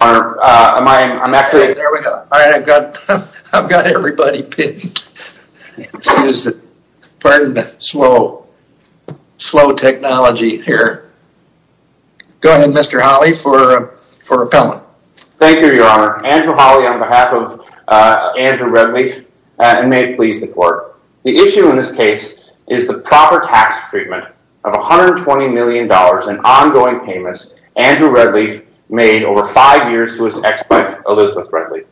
I'm actually I've got everybody Is it burn that slow slow technology here Go ahead. Mr. Holly for for repellent. Thank you, Your Honor Andrew Holly on behalf of Andrew Redleaf and may it please the court the issue in this case is the proper tax treatment of 120 million dollars in ongoing payments Andrew Redleaf made over five years to his ex-wife Elizabeth Redleaf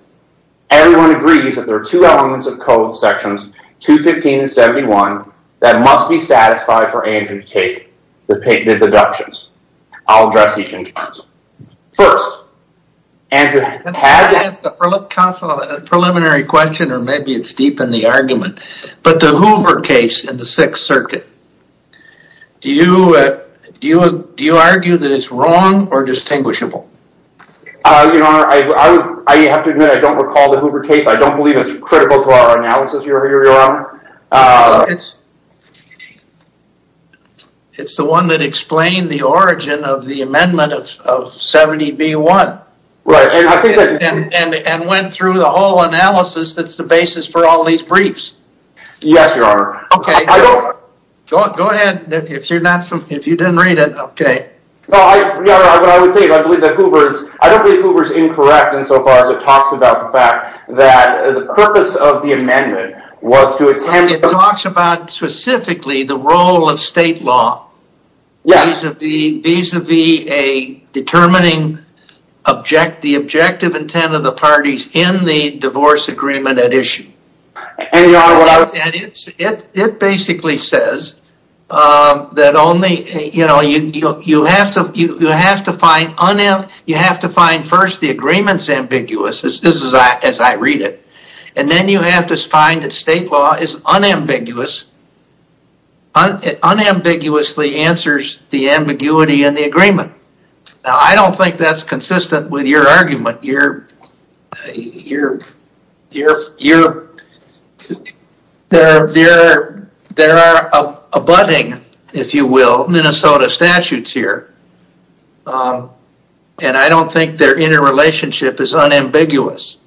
Everyone agrees that there are two elements of code sections 215 and 71 that must be satisfied for Andrew to take the pay the deductions. I'll address each in court first Preliminary question or maybe it's deep in the argument, but the Hoover case in the Sixth Circuit Do you do you do you argue that it's wrong or distinguishable? It's the one that explained the origin of the amendment of 70 b1 And went through the whole analysis that's the basis for all these briefs Go ahead. If you're not from if you didn't read it, okay Incorrect and so far as it talks about the fact that the purpose of the amendment was to attend it talks about specifically the role of state law Yes of the visa be a determining Object the objective intent of the parties in the divorce agreement at issue And it's it it basically says That only you know, you you have to you have to find on him You have to find first the agreements ambiguous as this is as I read it and then you have to find that state law is unambiguous Unambiguously answers the ambiguity and the agreement now, I don't think that's consistent with your argument you're you're You're There there there are a budding if you will, Minnesota statutes here And I don't think their interrelationship is unambiguous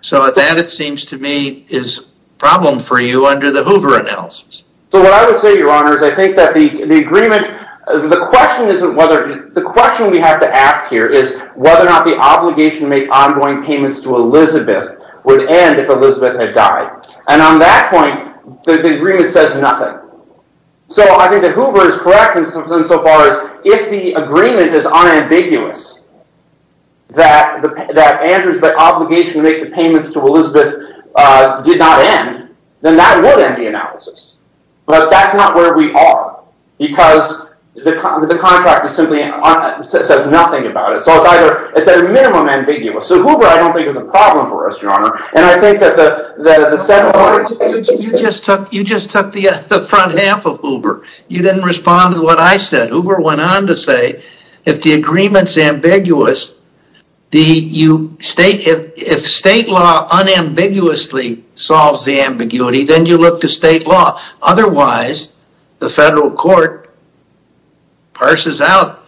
So at that it seems to me is problem for you under the Hoover analysis So what I would say your honor is I think that the the agreement the question isn't whether the question we have to ask here Whether or not the obligation to make ongoing payments to Elizabeth would end if Elizabeth had died and on that point The agreement says nothing So I think the Hoover is correct in some sense so far as if the agreement is unambiguous That the that Andrews but obligation to make the payments to Elizabeth Did not end then that would end the analysis, but that's not where we are Because the contract is simply says nothing about it. So it's either it's at a minimum ambiguous So Hoover, I don't think is a problem for us your honor. And I think that the You just took you just took the front half of Hoover You didn't respond to what I said Hoover went on to say if the agreements ambiguous The you state if state law Unambiguously solves the ambiguity then you look to state law Otherwise the federal court Parses out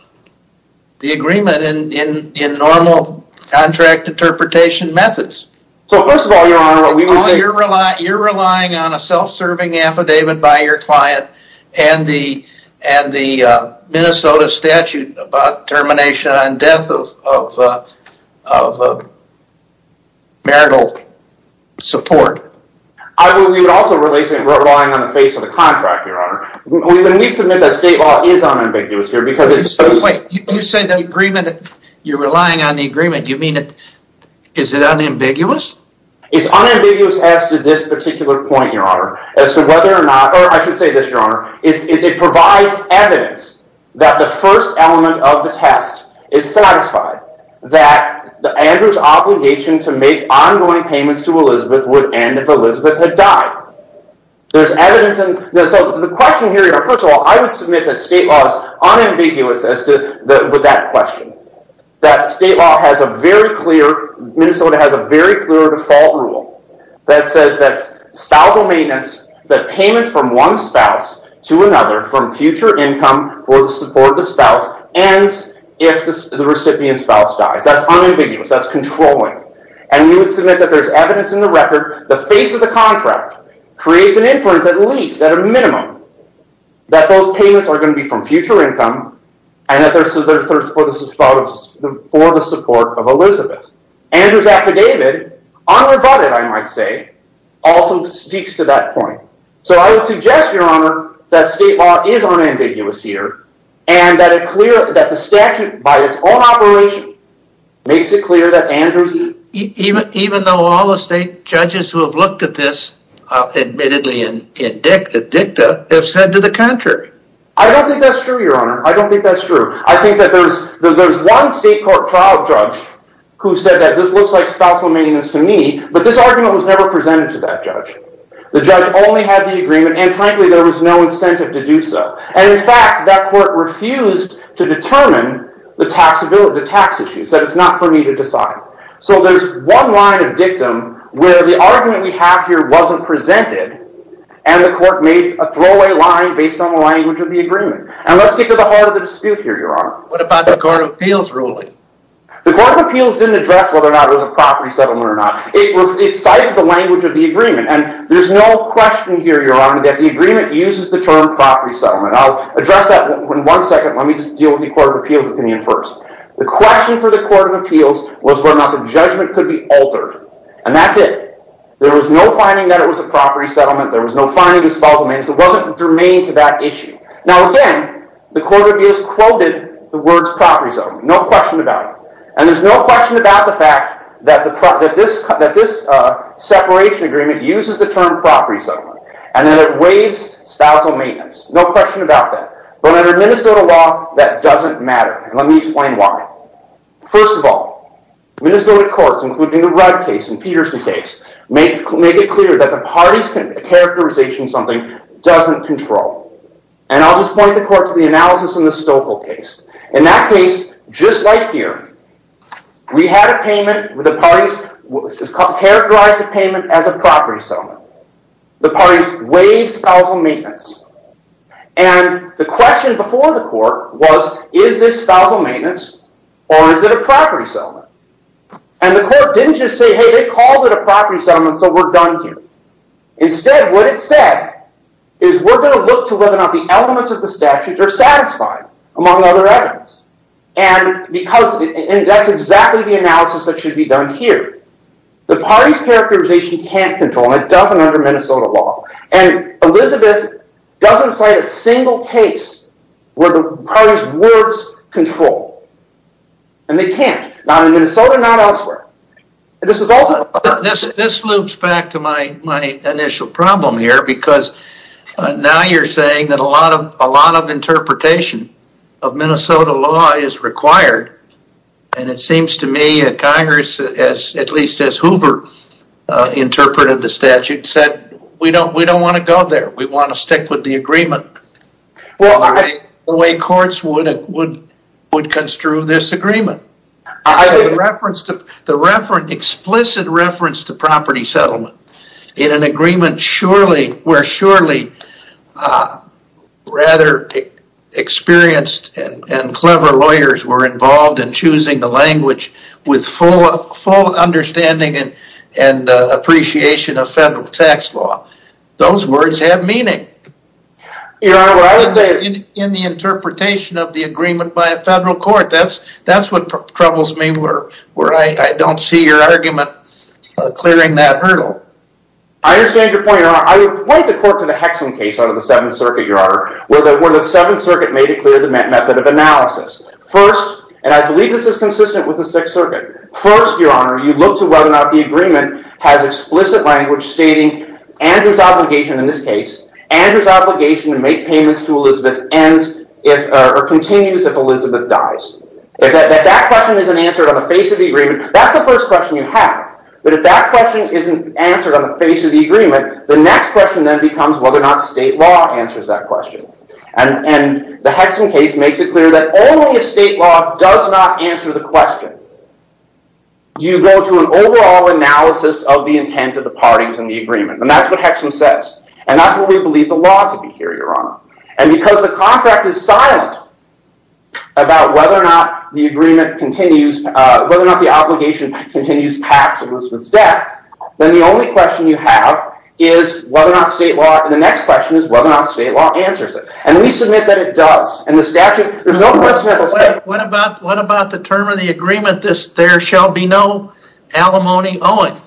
the agreement in in in normal contract interpretation methods You're relying on a self-serving affidavit by your client and the and the Minnesota statute about termination and death of Marital Support You're relying on the agreement you mean it is it unambiguous It's unambiguous as to this particular point your honor as to whether or not I should say this your honor is it provides evidence That the first element of the test is satisfied That the Andrews obligation to make ongoing payments to Elizabeth would end if Elizabeth had died There's evidence in the question here. First of all, I would submit that state laws Unambiguous as to that with that question that state law has a very clear Minnesota has a very clear default rule that says that's spousal maintenance that payments from one spouse to another from future income for the support of the spouse and If the recipient spouse dies, that's unambiguous That's controlling and you would submit that there's evidence in the record the face of the contract Creates an inference at least at a minimum that those payments are going to be from future income and that there's For the support of Elizabeth and whose affidavit on about it I might say Also speaks to that point So I would suggest your honor that state law is on ambiguous here And that it clear that the statute by its own operation Makes it clear that Andrews even even though all the state judges who have looked at this Admittedly in the dicta have said to the contrary. I don't think that's true your honor. I don't think that's true I think that there's there's one state court trial judge who said that this looks like spousal maintenance to me But this argument was never presented to that judge The judge only had the agreement and frankly there was no incentive to do so And in fact that court refused to determine the taxability the tax issues that it's not for me to decide so there's one line of dictum where the argument we have here wasn't presented and The court made a throwaway line based on the language of the agreement and let's get to the heart of the dispute here Your honor. What about the Court of Appeals ruling? The Court of Appeals didn't address whether or not it was a property settlement or not It cited the language of the agreement and there's no question here your honor that the agreement uses the term property settlement I'll address that in one second Let me just deal with the Court of Appeals opinion first The question for the Court of Appeals was whether or not the judgment could be altered and that's it There was no finding that it was a property settlement. There was no finding of spousal maintenance It wasn't germane to that issue. Now again, the Court of Appeals quoted the words property settlement No question about it, and there's no question about the fact that this Separation agreement uses the term property settlement and then it waives spousal maintenance. No question about that But under Minnesota law that doesn't matter. Let me explain why first of all Minnesota courts including the Rudd case and Peterson case make it clear that the parties Characterization something doesn't control and I'll just point the court to the analysis in the Stoeckle case in that case Just like here We had a payment with the parties which is characterized the payment as a property settlement the parties waive spousal maintenance and the question before the court was is this spousal maintenance or is it a property settlement and The court didn't just say hey, they called it a property settlement. So we're done here instead what it said is we're going to look to whether or not the elements of the statutes are satisfied among other evidence and Because that's exactly the analysis that should be done here the parties characterization can't control and it doesn't under Minnesota law and Elizabeth doesn't cite a single case where the parties words control and They can't not in Minnesota not elsewhere this is also this this loops back to my my initial problem here because Now you're saying that a lot of a lot of interpretation of Minnesota law is required and it seems to me at Congress as at least as Hoover Interpreted the statute said we don't we don't want to go there. We want to stick with the agreement Well, I the way courts would would would construe this agreement I would reference to the reference explicit reference to property settlement in an agreement Surely we're surely Rather Experienced and clever lawyers were involved in choosing the language with full full understanding and and Appreciation of federal tax law those words have meaning In the interpretation of the agreement by a federal court, that's that's what troubles me were where I don't see your argument Clearing that hurdle I understand your point your honor. I would point the court to the Hexham case under the Seventh Circuit your honor Where the Seventh Circuit made it clear the method of analysis first and I believe this is consistent with the Sixth Circuit First your honor you look to whether or not the agreement has explicit language stating Andrews obligation in this case and his obligation to make payments to Elizabeth ends if or continues if Elizabeth dies That question isn't answered on the face of the agreement That's the first question you have but if that question isn't answered on the face of the agreement the next question then becomes whether or not state law answers that question and And the Hexham case makes it clear that only a state law does not answer the question You go to an overall analysis of the intent of the parties in the agreement And that's what Hexham says and not what we believe the law to be here your honor and because the contract is silent About whether or not the agreement continues whether or not the obligation continues past Elizabeth's death Then the only question you have is whether or not state law and the next question is whether or not state law answers it And we submit that it does and the statute there's no question What about what about the term of the agreement this there shall be no alimony owing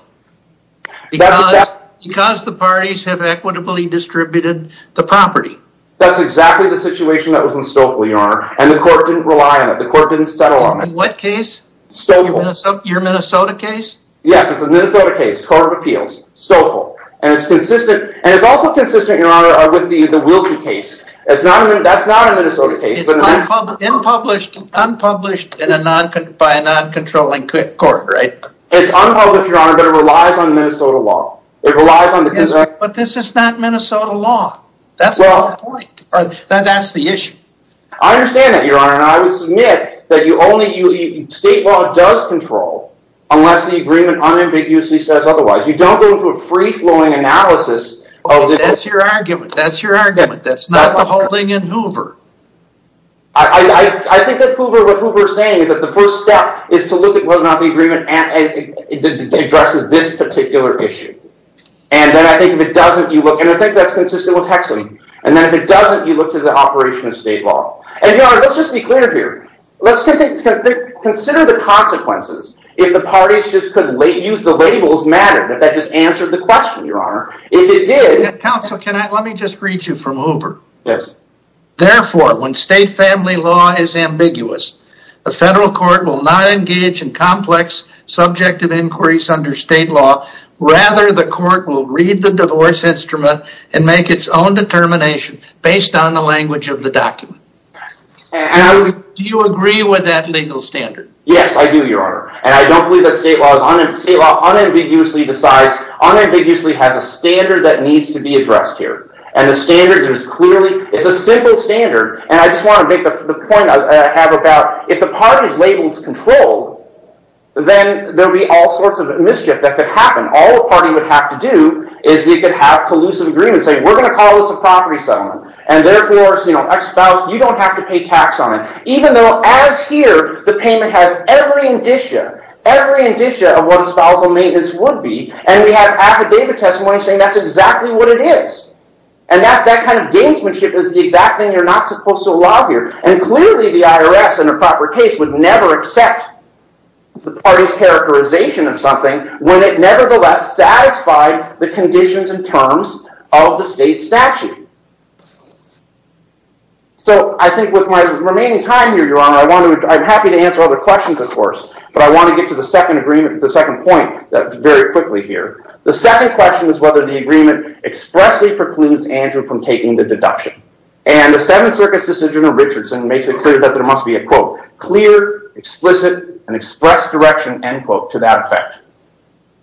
Because the parties have equitably distributed the property That's exactly the situation that was in Stouffville your honor and the court didn't rely on it the court didn't settle on it what case Your Minnesota case. Yes, it's a Minnesota case Court of Appeals Stouffville, and it's consistent And it's also consistent your honor with the the Wiltrie case. It's not that's not a Minnesota case Unpublished unpublished in a non could buy a non-controlling quick court right it's unpublished your honor, but it relies on Minnesota law But this is not Minnesota law That's the issue I Understand that your honor and I would submit that you only you state law does control Unless the agreement unambiguously says otherwise you don't go through a free-flowing analysis. Oh, that's your argument. That's your argument that's not the holding in Hoover I Think that Hoover what Hoover saying is that the first step is to look at whether or not the agreement and Addresses this particular issue, and then I think if it doesn't you look and I think that's consistent with Hexley And then if it doesn't you look to the operation of state law and your honor. Let's just be clear here Let's get it Consider the consequences if the parties just couldn't lay use the labels matter that that just answered the question your honor If it did counsel, can I let me just read you from Hoover yes? Therefore when state family law is ambiguous the federal court will not engage in complex Subjective inquiries under state law rather the court will read the divorce instrument and make its own determination based on the language of the document and Do you agree with that legal standard? Yes? I do your honor, and I don't believe that state laws on it See law unambiguously decides unambiguously has a standard that needs to be addressed here and the standard is clearly It's a simple standard, and I just want to make the point. I have about if the parties labels control Then there'll be all sorts of mischief that could happen all the party would have to do is you could have collusive agreement say We're going to call this a property settlement and therefore You know I spouse you don't have to pay tax on it even though as here the payment has every indicia Every indicia of what a spousal maintenance would be and we have affidavit testimony saying that's exactly what it is And that that kind of gamesmanship is the exact thing you're not supposed to allow here and clearly the IRS in a proper case would never accept The party's characterization of something when it nevertheless Satisfied the conditions and terms of the state statute So I think with my remaining time here your honor I want to I'm happy to answer other questions of course But I want to get to the second agreement the second point that very quickly here the second question is whether the agreement Expressly precludes Andrew from taking the deduction and the Seventh Circus decision of Richardson makes it clear that there must be a quote clear Explicit and express direction and quote to that effect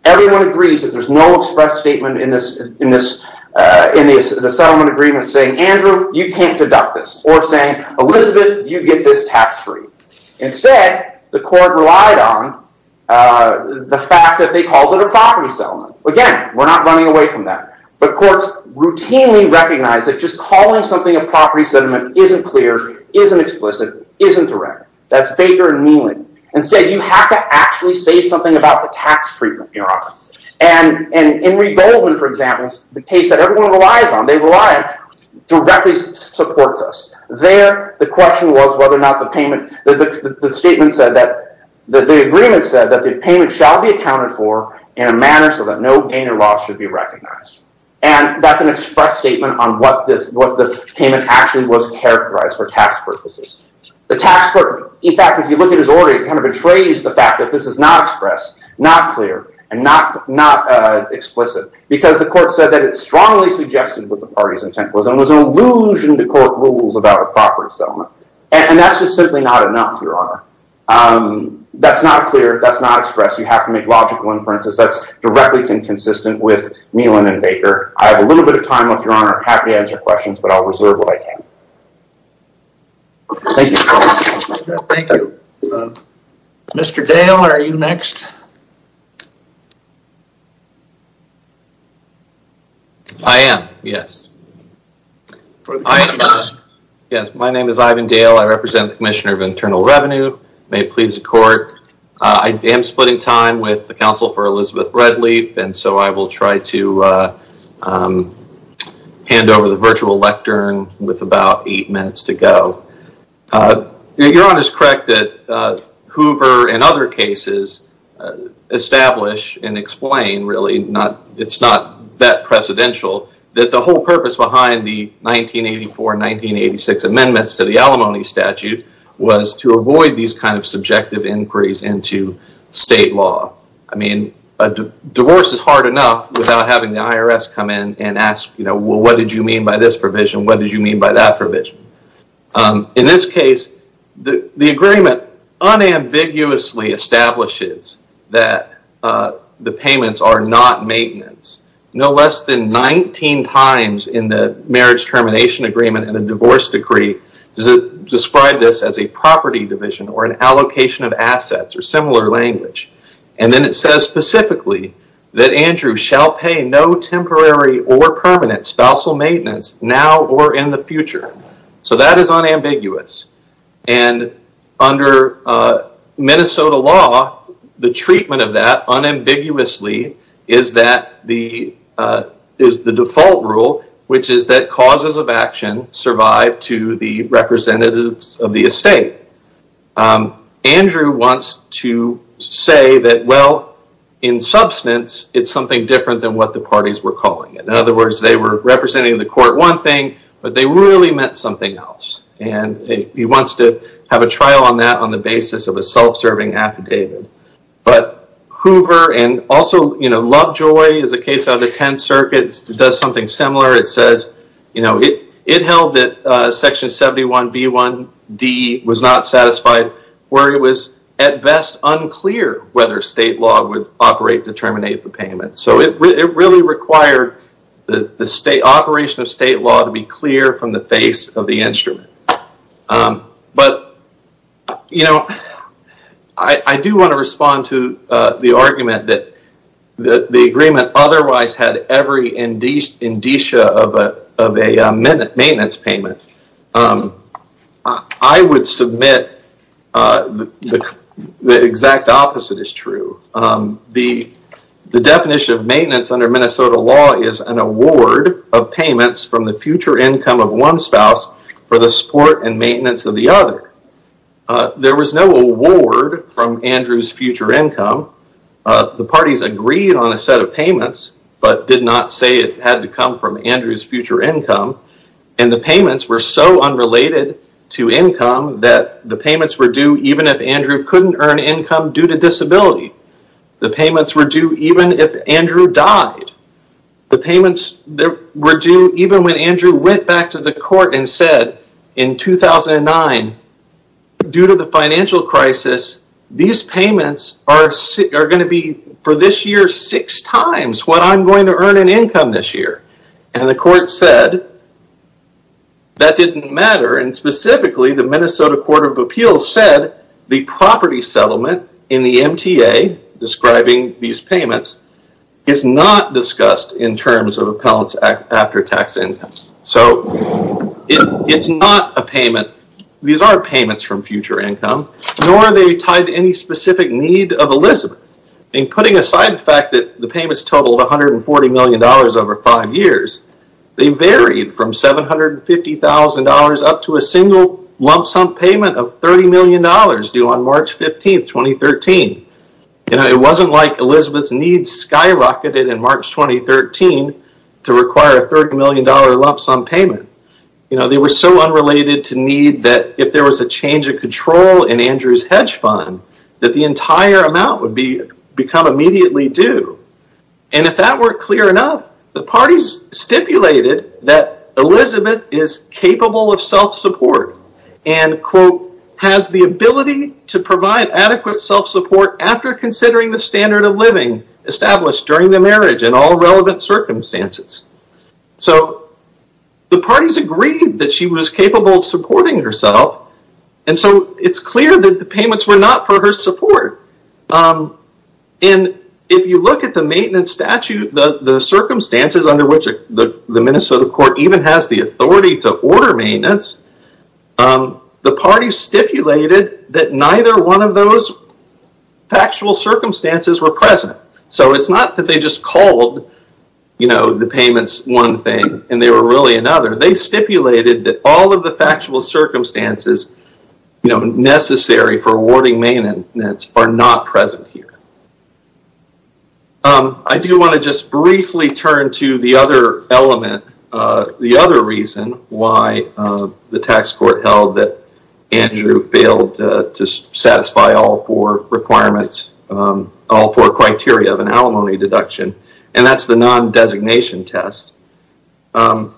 Everyone agrees that there's no express statement in this in this In the settlement agreement saying Andrew you can't deduct this or saying Elizabeth you get this tax-free Instead the court relied on The fact that they called it a property settlement again We're not running away from that but courts routinely recognize that just calling something a property settlement isn't clear isn't explicit Isn't direct that's Baker and Meeling and said you have to actually say something about the tax treatment You're on and and in revolving for examples the case that everyone relies on they rely directly supports us there the question was whether or not the payment the statement said that the agreement said that the payment shall be accounted for in a manner so that no gain or loss should be recognized and That's an express statement on what this what the payment actually was characterized for tax purposes The tax court in fact if you look at his order it kind of betrays the fact that this is not expressed not clear and not not Explicit because the court said that it's strongly suggested with the parties intent was and was an illusion to court rules about a property settlement And that's just simply not enough your honor That's not clear. That's not expressed. You have to make logical inferences. That's directly inconsistent with Meeling and Baker I have a little bit of time with your honor happy to answer questions, but I'll reserve what I can Thank you Mr. Dale, are you next I? Am yes Yes, my name is Ivan Dale I represent the Commissioner of Internal Revenue may it please the court I am splitting time with the Council for Elizabeth Redleaf, and so I will try to Hand over the virtual lectern with about eight minutes to go Your honor's correct that Hoover and other cases Establish and explain really not it's not that Precedential that the whole purpose behind the 1984 1986 amendments to the alimony statute Was to avoid these kind of subjective inquiries into state law I mean a divorce is hard enough without having the IRS come in and ask you know Well, what did you mean by this provision? What did you mean by that provision? In this case the the agreement unambiguously establishes that The payments are not maintenance no less than 19 times in the marriage termination agreement and a divorce decree Does it describe this as a property division or an allocation of assets or similar language? And then it says specifically that Andrew shall pay no temporary or permanent Spousal maintenance now or in the future, so that is unambiguous and under Minnesota law the treatment of that unambiguously is that the Is the default rule which is that causes of action survive to the representatives of the estate? Andrew wants to Say that well in Representing the court one thing, but they really meant something else and he wants to have a trial on that on the basis of a self-serving affidavit But Hoover and also, you know, Lovejoy is a case out of the 10 circuits. It does something similar It says, you know it it held that Section 71 B 1 D was not satisfied where it was at best Unclear whether state law would operate to terminate the payment So it really required the the state operation of state law to be clear from the face of the instrument but you know, I Do want to respond to the argument that? That the agreement otherwise had every indeed indicia of a of a minute maintenance payment I would submit The exact opposite is true the The definition of maintenance under Minnesota law is an award of payments from the future income of one spouse For the support and maintenance of the other There was no award from Andrews future income the parties agreed on a set of payments but did not say it had to come from Andrews future income and The payments were so unrelated to income that the payments were due Even if Andrew couldn't earn income due to disability the payments were due even if Andrew died The payments there were due even when Andrew went back to the court and said in 2009 Due to the financial crisis These payments are sick are going to be for this year six times what I'm going to earn an income this year and the court said That didn't matter and specifically the Minnesota Court of Appeals said the property settlement in the MTA Describing these payments is not discussed in terms of appellants act after tax income. So It's not a payment These are payments from future income nor they tied to any specific need of Elizabeth And putting aside the fact that the payments totaled 140 million dollars over five years They varied from $750,000 up to a single lump-sum payment of 30 million dollars due on March 15th, 2013 You know, it wasn't like Elizabeth's needs skyrocketed in March 2013 to require a 30 million dollar lump-sum payment You know They were so unrelated to need that if there was a change of control in Andrews hedge fund That the entire amount would be become immediately due and if that weren't clear enough the party's stipulated that Elizabeth is capable of self-support and Quote has the ability to provide adequate self-support after considering the standard of living established during the marriage and all relevant circumstances so The party's agreed that she was capable of supporting herself. And so it's clear that the payments were not for her support and If you look at the maintenance statute the the circumstances under which the the Minnesota court even has the authority to order maintenance The party stipulated that neither one of those Factual circumstances were present. So it's not that they just called You know the payments one thing and they were really another they stipulated that all of the factual circumstances You know necessary for awarding maintenance are not present here I do want to just briefly turn to the other element the other reason why the tax court held that Andrew failed to satisfy all four requirements All four criteria of an alimony deduction and that's the non-designation test The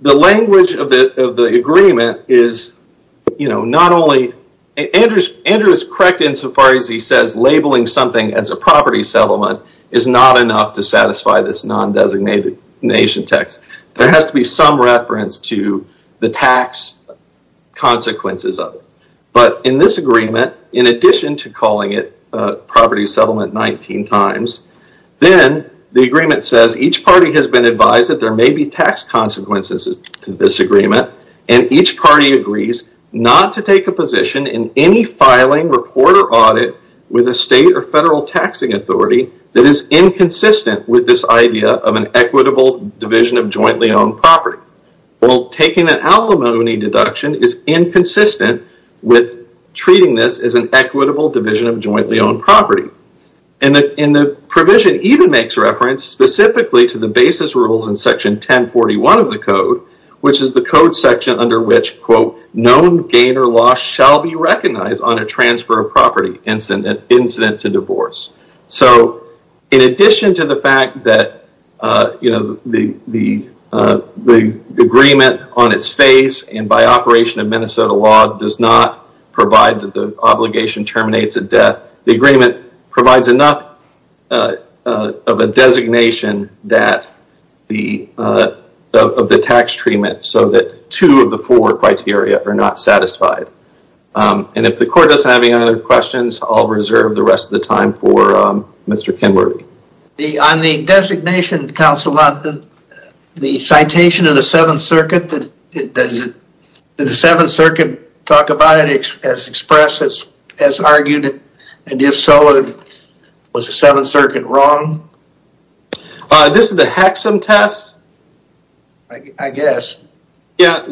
the language of the agreement is You know Not only Andrews Andrew is correct insofar as he says labeling something as a property settlement is not enough to satisfy this Non-designated nation text there has to be some reference to the tax Consequences of it but in this agreement in addition to calling it property settlement 19 times Then the agreement says each party has been advised that there may be tax Consequences to this agreement and each party agrees not to take a position in any filing report or audit With a state or federal taxing authority that is inconsistent with this idea of an equitable division of jointly owned property well taking an alimony deduction is inconsistent with Treating this as an equitable division of jointly owned property and that in the provision even makes reference Specifically to the basis rules in section 1041 of the code Which is the code section under which quote known gain or loss shall be recognized on a transfer of property incident incident to divorce so in addition to the fact that you know the the Agreement on its face and by operation of Minnesota law does not provide that the obligation terminates a death the agreement provides enough Of a designation that the Of the tax treatment so that two of the four criteria are not satisfied And if the court doesn't have any other questions, I'll reserve the rest of the time for Mr. Kimberly the on the designation council about the the citation of the Seventh Circuit that The Seventh Circuit talk about it as expressed as as argued it and if so Was the Seventh Circuit wrong This is the Hexham test I Guess yeah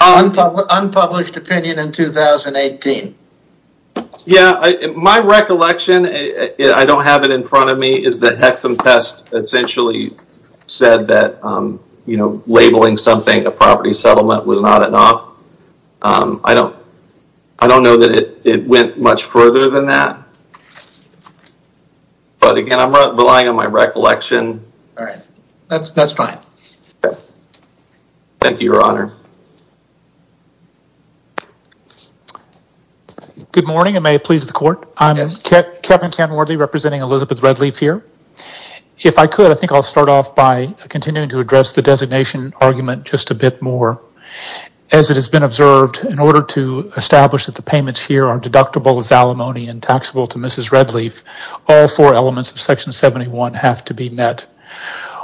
Unpublished opinion in 2018 Yeah, my recollection. I don't have it in front of me is the Hexham test essentially Said that you know labeling something a property settlement was not enough I don't I don't know that it went much further than that But again, I'm relying on my recollection, all right, that's that's fine. Thank you your honor Good morning, and may it please the court. I'm Kevin Kenworthy representing Elizabeth Redleaf here If I could I think I'll start off by continuing to address the designation argument just a bit more As it has been observed in order to establish that the payments here are deductible as alimony and taxable to Mrs. Redleaf all four elements of section 71 have to be met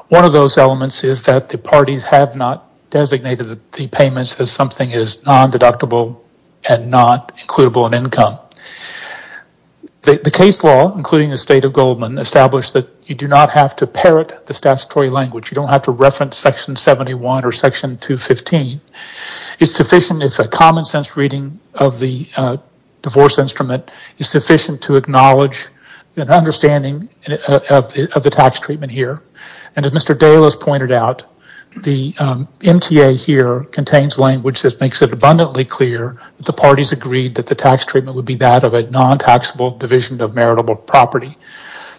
One of those elements is that the parties have not Designated the payments as something is non-deductible and not includable in income The case law including the state of Goldman established that you do not have to parrot the statutory language you don't have to reference section 71 or section 215. It's sufficient. It's a common-sense reading of the Divorce instrument is sufficient to acknowledge an understanding of the tax treatment here and as Mr. Dale has pointed out the MTA here contains language that makes it abundantly clear The parties agreed that the tax treatment would be that of a non-taxable division of meritable property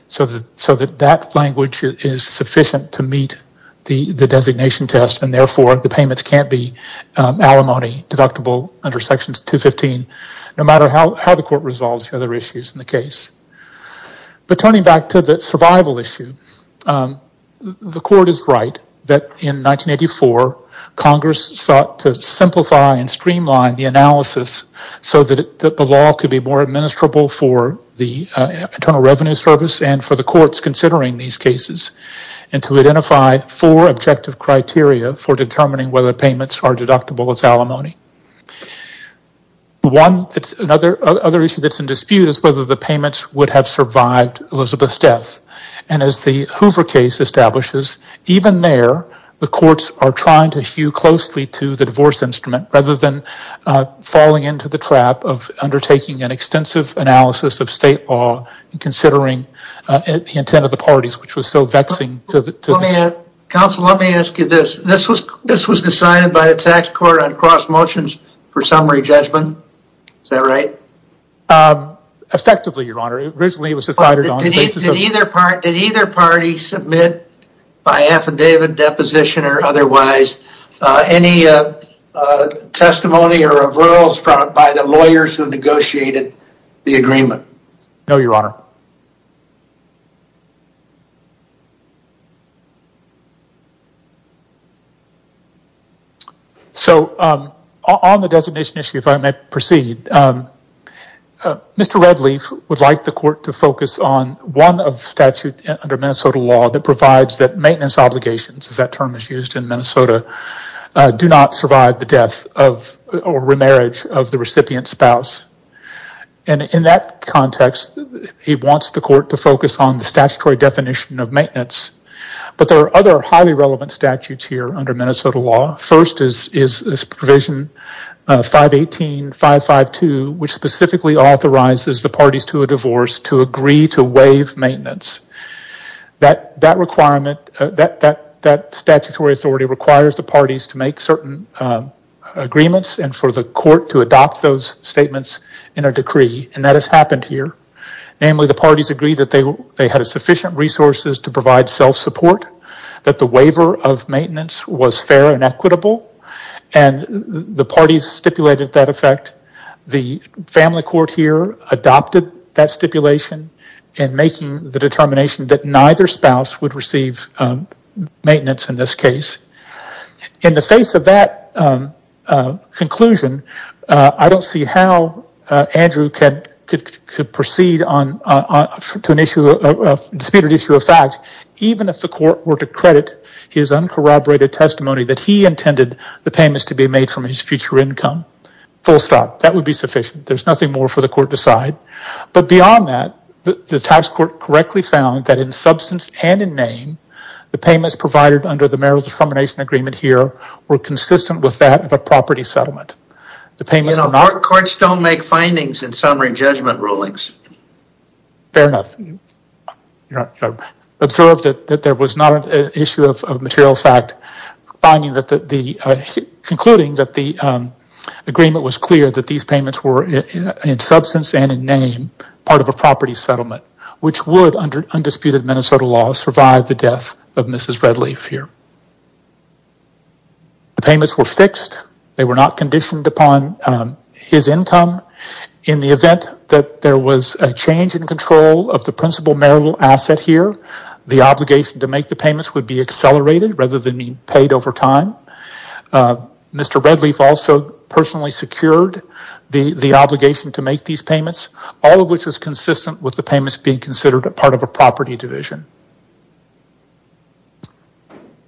So that so that that language is sufficient to meet the the designation test and therefore the payments can't be Alimony deductible under sections 215 no matter how the court resolves other issues in the case But turning back to the survival issue The court is right that in 1984 Congress sought to simplify and streamline the analysis so that the law could be more administrable for the Internal Revenue Service and for the courts considering these cases and to identify four objective criteria For determining whether payments are deductible as alimony One that's another other issue that's in dispute is whether the payments would have survived Elizabeth's death and as the Hoover case establishes even there the courts are trying to hew closely to the divorce instrument rather than Falling into the trap of undertaking an extensive analysis of state law and considering the intent of the parties which was so vexing to the Counsel, let me ask you this. This was this was decided by a tax court on cross motions for summary judgment. Is that right? Effectively your honor it originally was decided on Either part did either party submit by affidavit deposition or otherwise any Testimony or of Earl's front by the lawyers who negotiated the agreement. No your honor So on the designation issue if I may proceed Mr. Redleaf would like the court to focus on one of statute under Minnesota law that provides that maintenance obligations If that term is used in Minnesota Do not survive the death of or remarriage of the recipient spouse and In that context he wants the court to focus on the statutory definition of maintenance But there are other highly relevant statutes here under Minnesota law first is is this provision 518 552 which specifically authorizes the parties to a divorce to agree to waive maintenance That that requirement that that that statutory authority requires the parties to make certain Agreements and for the court to adopt those statements in a decree and that has happened here Namely the parties agree that they they had a sufficient resources to provide self-support that the waiver of maintenance was fair and equitable and the parties stipulated that effect the Family court here adopted that stipulation and making the determination that neither spouse would receive maintenance in this case in the face of that Conclusion I don't see how Andrew can proceed on to an issue of disputed issue of fact Even if the court were to credit his uncorroborated testimony that he intended the payments to be made from his future income Full stop that would be sufficient There's nothing more for the court to decide but beyond that the tax court correctly found that in substance and in name The payments provided under the marital defamation agreement here were consistent with that of a property settlement The payment of our courts don't make findings in summary judgment rulings fair enough Observed that there was not an issue of material fact finding that the Concluding that the Agreement was clear that these payments were in substance and in name part of a property settlement Which would under undisputed Minnesota law survive the death of mrs. Redleaf here The payments were fixed they were not conditioned upon His income in the event that there was a change in control of the principal marital asset here The obligation to make the payments would be accelerated rather than be paid over time Mr. Redleaf also personally secured the the obligation to make these payments all of which is consistent with the payments being considered a part of a property division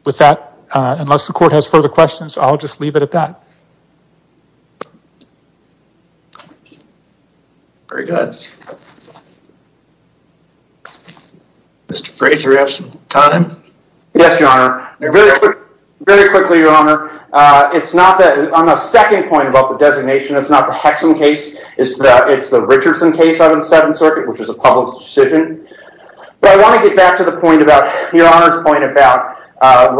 With that unless the court has further questions, I'll just leave it at that Very good Mr. Frazier have some time. Yes, your honor. They're very quick very quickly your honor It's not that I'm a second point about the designation. It's not the Hexham case It's that it's the Richardson case on the 7th Circuit, which is a public decision But I want to get back to the point about your honor's point about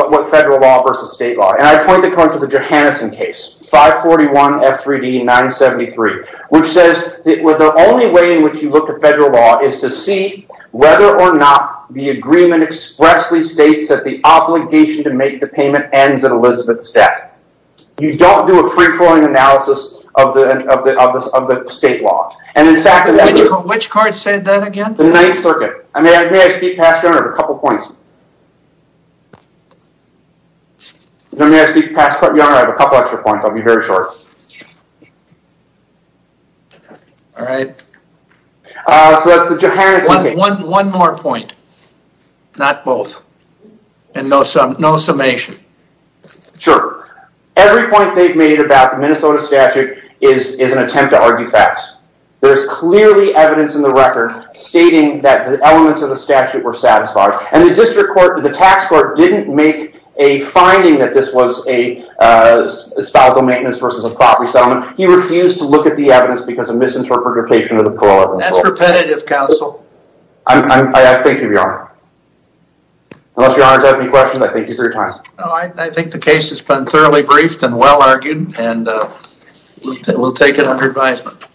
What federal law versus state law and I point the coin for the Johanneson case 541 f3d 973 which says that were the only way in which you look at federal law is to see whether or not the agreement Expressly states that the obligation to make the payment ends at Elizabeth's death You don't do a free-flowing analysis of the of the of the state law And in fact, which card said that again the 9th Circuit? I mean, I see pastor of a couple points Let me ask you pass but you don't have a couple extra points. I'll be very short All right One more point not both and no some no summation Sure, every point they've made about the Minnesota statute is is an attempt to argue facts there's clearly evidence in the record stating that the elements of the statute were satisfied and the district court that the tax court didn't make a finding that this was a Spousal maintenance versus a property settlement. He refused to look at the evidence because of misinterpretation of the poor repetitive counsel I think the case has been thoroughly briefed and well argued and we'll take it under advisement